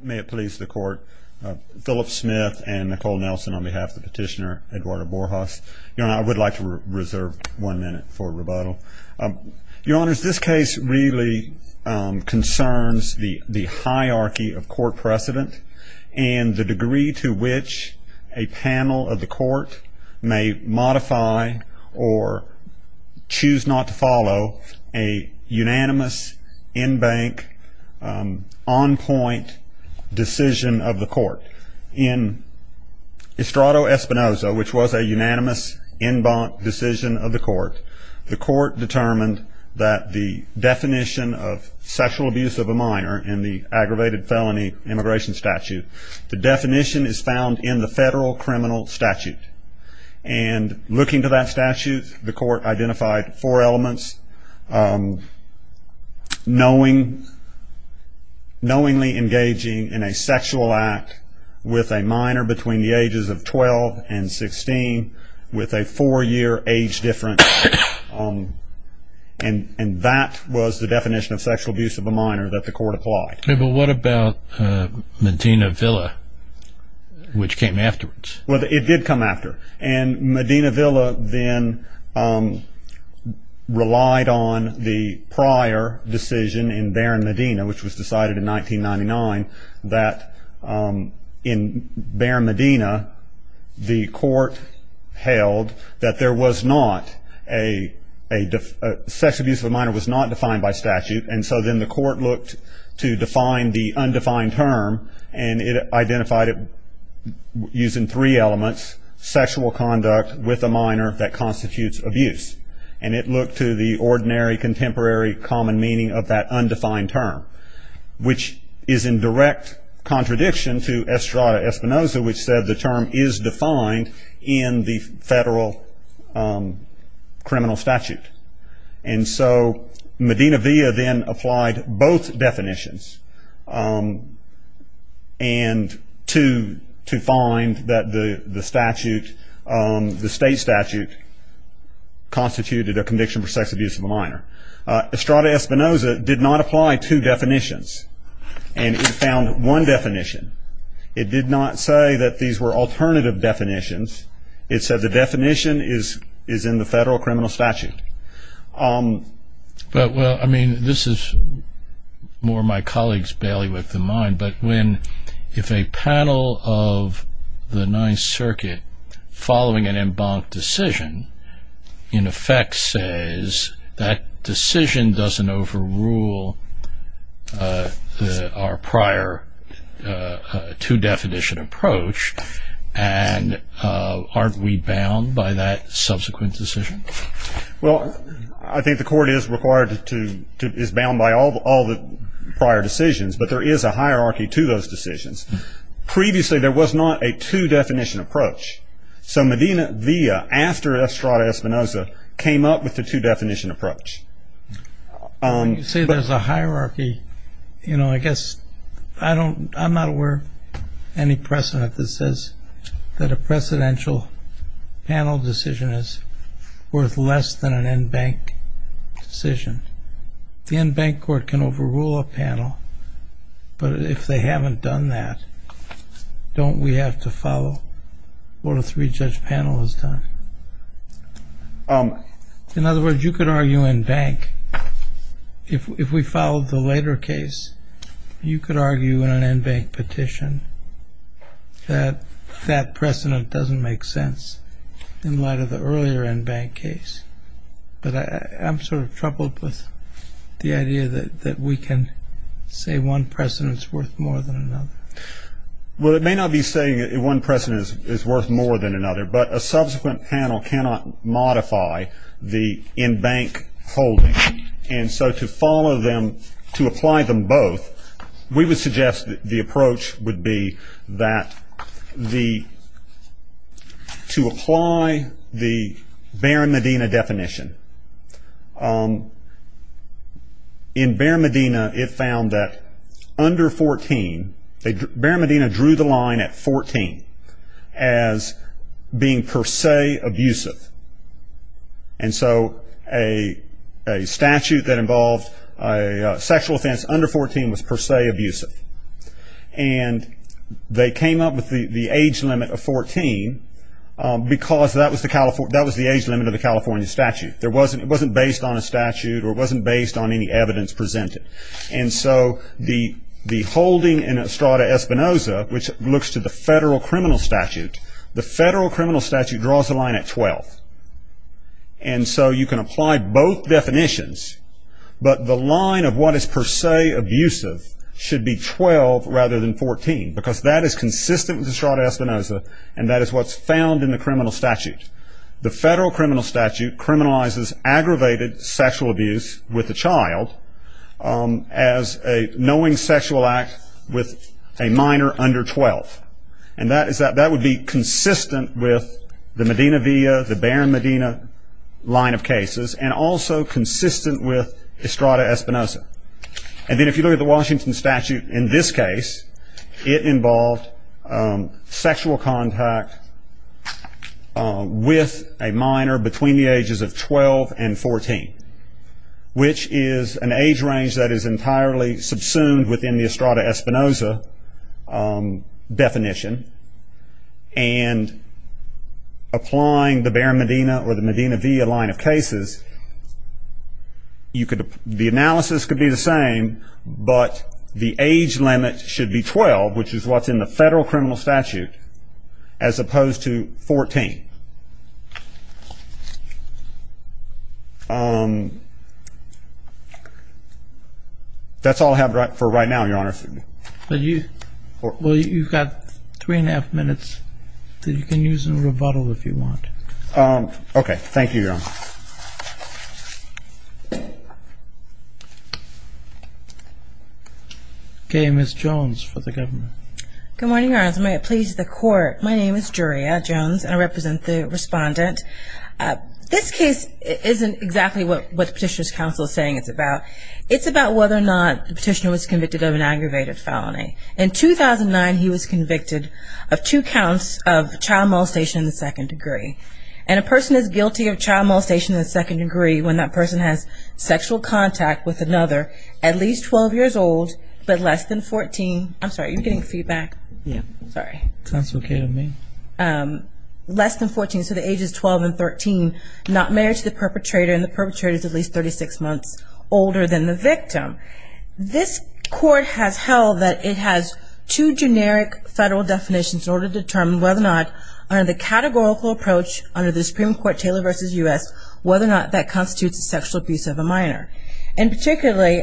May it please the Court, Philip Smith and Nicole Nelson on behalf of the petitioner Eduardo Borjas. Your Honor, I would like to reserve one minute for rebuttal. Your Honors, this case really concerns the hierarchy of court precedent and the degree to which a panel of the Court may modify or choose not to follow a unanimous, in-bank, on-point decision of the Court. In Estrado Espinoza, which was a unanimous, in-bank decision of the Court, the Court determined that the definition of sexual abuse of a minor in the aggravated felony immigration statute, the definition is found in the federal criminal statute. And looking to that statute, the Court identified four elements. Knowingly engaging in a sexual act with a minor between the ages of 12 and 16 with a four-year age difference. And that was the definition of sexual abuse of a minor that the Court applied. What about Medina Villa, which came afterwards? Well, it did come after. And Medina Villa then relied on the prior decision in Baron Medina, which was decided in 1999, that in Baron Medina, the Court held that sexual abuse of a minor was not defined by statute. And so then the Court looked to define the undefined term and it identified it using three elements, sexual conduct with a minor that constitutes abuse. And it looked to the ordinary, contemporary, common meaning of that undefined term, which is in direct contradiction to Estrado Espinoza, which said the term is defined in the federal criminal statute. And so Medina Villa then applied both definitions and to find that the statute, the state statute, constituted a conviction for sex abuse of a minor. Estrado Espinoza did not apply two definitions. And it found one definition. It did not say that these were alternative definitions. It said the definition is in the federal criminal statute. Well, I mean, this is more my colleague's bailiwick than mine, but if a panel of the Ninth Circuit, following an embanked decision, in effect says that decision doesn't overrule our prior two-definition approach and aren't we bound by that subsequent decision? Well, I think the Court is bound by all the prior decisions, but there is a hierarchy to those decisions. Previously there was not a two-definition approach. So Medina Villa, after Estrado Espinoza, came up with the two-definition approach. You say there's a hierarchy. You know, I guess I'm not aware of any precedent that says that a precedential panel decision is worth less than an embanked decision. The embanked court can overrule a panel, but if they haven't done that, don't we have to follow what a three-judge panel has done? In other words, you could argue embanked. If we follow the later case, you could argue in an embanked petition that that precedent doesn't make sense in light of the earlier embanked case. But I'm sort of troubled with the idea that we can say one precedent is worth more than another. Well, it may not be saying one precedent is worth more than another, but a subsequent panel cannot modify the embanked holding. And so to follow them, to apply them both, we would suggest that the approach would be that to apply the Behr and Medina definition. In Behr and Medina, it found that under 14, Behr and Medina drew the line at 14 as being per se abusive. And so a statute that involved a sexual offense under 14 was per se abusive. And they came up with the age limit of 14 because that was the age limit of the California statute. It wasn't based on a statute or it wasn't based on any evidence presented. And so the holding in Estrada-Espinoza, which looks to the federal criminal statute, the federal criminal statute draws the line at 12. And so you can apply both definitions, but the line of what is per se abusive should be 12 rather than 14 because that is consistent with Estrada-Espinoza and that is what's found in the criminal statute. The federal criminal statute criminalizes aggravated sexual abuse with a child as a knowing sexual act with a minor under 12. And that would be consistent with the Medina-Via, the Behr and Medina line of cases, and also consistent with Estrada-Espinoza. And then if you look at the Washington statute in this case, it involved sexual contact with a minor between the ages of 12 and 14, which is an age range that is entirely subsumed within the Estrada-Espinoza definition. And applying the Behr and Medina or the Medina-Via line of cases, the analysis could be the same, but the age limit should be 12, which is what's in the federal criminal statute, as opposed to 14. That's all I have for right now, Your Honor. Well, you've got three and a half minutes that you can use in rebuttal if you want. Okay, thank you, Your Honor. Okay, Ms. Jones for the government. Good morning, Your Honor. May it please the Court, my name is Juria Jones, and I represent the respondent. This case isn't exactly what the Petitioner's Counsel is saying it's about. It's about whether or not the petitioner was convicted of an aggravated felony. In 2009, he was convicted of two counts of child molestation in the second degree. And a person is guilty of child molestation in the second degree when that person has sexual contact with another at least 12 years old, but less than 14. I'm sorry, are you getting feedback? Yeah. Sorry. Sounds okay to me. Less than 14, so the age is 12 and 13, not married to the perpetrator, and the perpetrator is at least 36 months older than the victim. This Court has held that it has two generic federal definitions in order to determine whether or not under the categorical approach under the Supreme Court, Taylor v. U.S., whether or not that constitutes a sexual abuse of a minor. And particularly,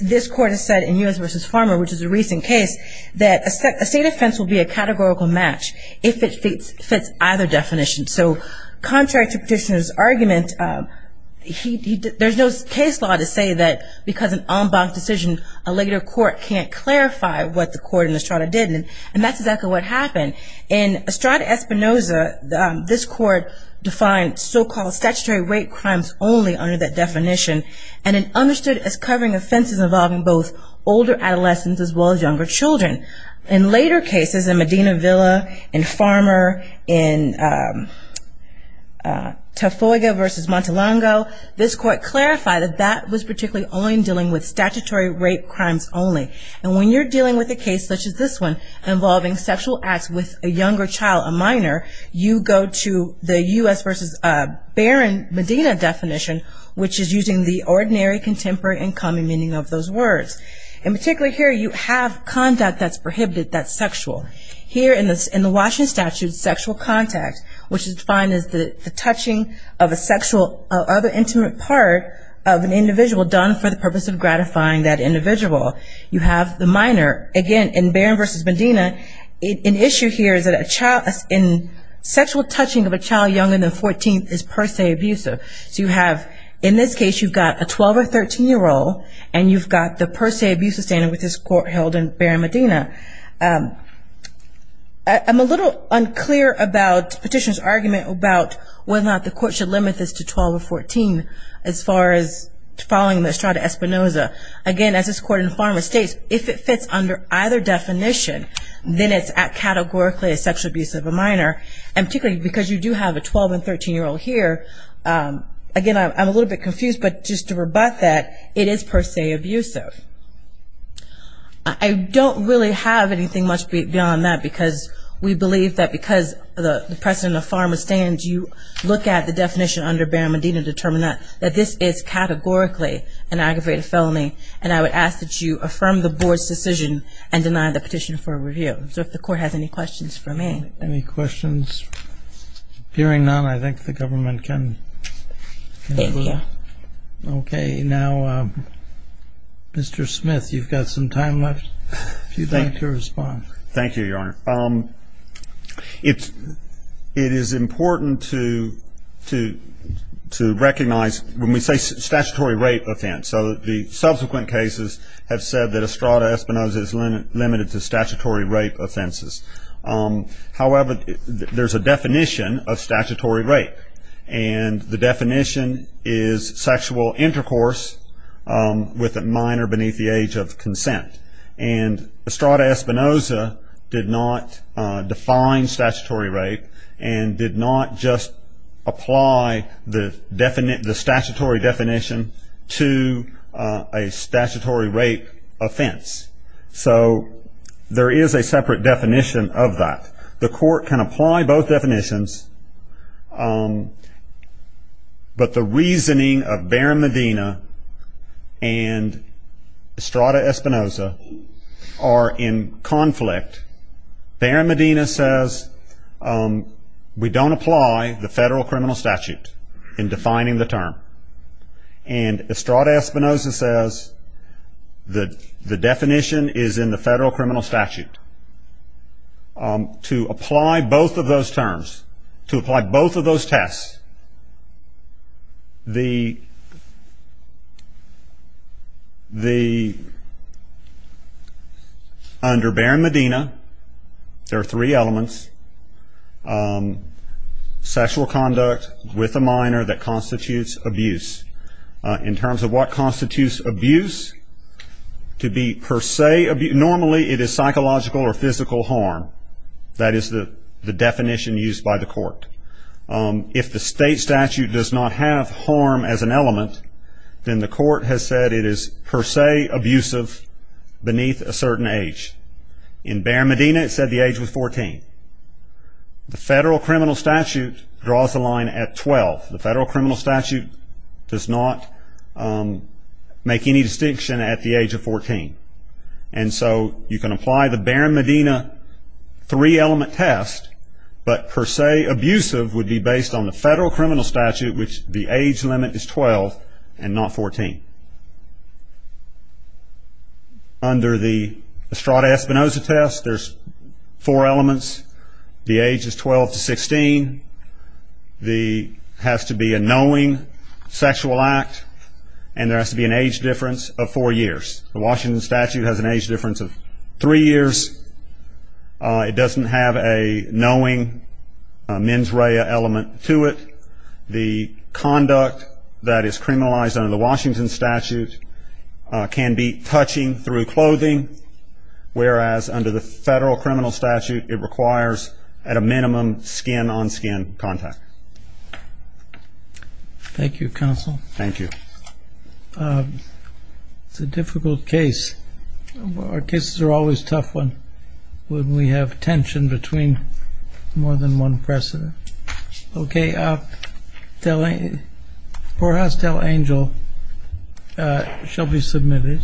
this Court has said in U.S. v. Farmer, which is a recent case, that a state offense will be a categorical match if it fits either definition. So contrary to Petitioner's argument, there's no case law to say that because an en banc decision, a later court can't clarify what the court in Estrada did. And that's exactly what happened. In Estrada-Espinoza, this Court defined so-called statutory rape crimes only under that definition and it understood as covering offenses involving both older adolescents as well as younger children. In later cases, in Medina Villa, in Farmer, in Tafoiga v. Montelongo, this Court clarified that that was particularly only in dealing with statutory rape crimes only. And when you're dealing with a case such as this one involving sexual acts with a younger child, a minor, you go to the U.S. v. Barron Medina definition, which is using the ordinary, contemporary, and common meaning of those words. And particularly here, you have conduct that's prohibited that's sexual. Here in the Washington Statute, sexual contact, which is defined as the touching of a sexual or other intimate part of an individual done for the purpose of gratifying that individual. You have the minor. Again, in Barron v. Medina, an issue here is that sexual touching of a child younger than 14 is per se abusive. So you have, in this case, you've got a 12- or 13-year-old, and you've got the per se abusive standard which this Court held in Barron Medina. I'm a little unclear about Petitioner's argument about whether or not the Court should limit this to 12 or 14 as far as following the Estrada-Espinoza. Again, as this Court in Fama states, if it fits under either definition, then it's categorically a sexual abuse of a minor. And particularly because you do have a 12- and 13-year-old here, again, I'm a little bit confused, but just to rebut that, it is per se abusive. I don't really have anything much beyond that, because we believe that because the precedent of Fama stands, you look at the definition under Barron Medina to determine that this is categorically an aggravated felony, and I would ask that you affirm the Board's decision and deny the petition for review. So if the Court has any questions for me. Any questions? Hearing none, I think the government can move. Thank you. Okay. Now, Mr. Smith, you've got some time left, if you'd like to respond. Thank you, Your Honor. It is important to recognize when we say statutory rape offense, so the subsequent cases have said that Estrada-Espinoza is limited to statutory rape offenses. However, there's a definition of statutory rape, and the definition is sexual intercourse with a minor beneath the age of consent. And Estrada-Espinoza did not define statutory rape and did not just apply the statutory definition to a statutory rape offense. So there is a separate definition of that. The Court can apply both definitions, but the reasoning of Barron Medina and Estrada-Espinoza are in conflict. Barron Medina says we don't apply the federal criminal statute in defining the term, and Estrada-Espinoza says the definition is in the federal criminal statute. To apply both of those terms, to apply both of those tests, under Barron Medina there are three elements, sexual conduct with a minor that constitutes abuse. In terms of what constitutes abuse, to be per se abuse, normally it is psychological or physical harm. That is the definition used by the Court. If the state statute does not have harm as an element, then the Court has said it is per se abusive beneath a certain age. In Barron Medina it said the age was 14. The federal criminal statute draws the line at 12. The federal criminal statute does not make any distinction at the age of 14. And so you can apply the Barron Medina three-element test, but per se abusive would be based on the federal criminal statute, which the age limit is 12 and not 14. Under the Estrada-Espinoza test, there's four elements. The age is 12 to 16. There has to be a knowing sexual act, and there has to be an age difference of four years. The Washington statute has an age difference of three years. It doesn't have a knowing mens rea element to it. The conduct that is criminalized under the Washington statute can be touching through clothing, whereas under the federal criminal statute it requires at a minimum skin-on-skin contact. Thank you, Counsel. Thank you. It's a difficult case. Our cases are always a tough one when we have tension between more than one precedent. Okay. Poor Hostile Angel shall be submitted.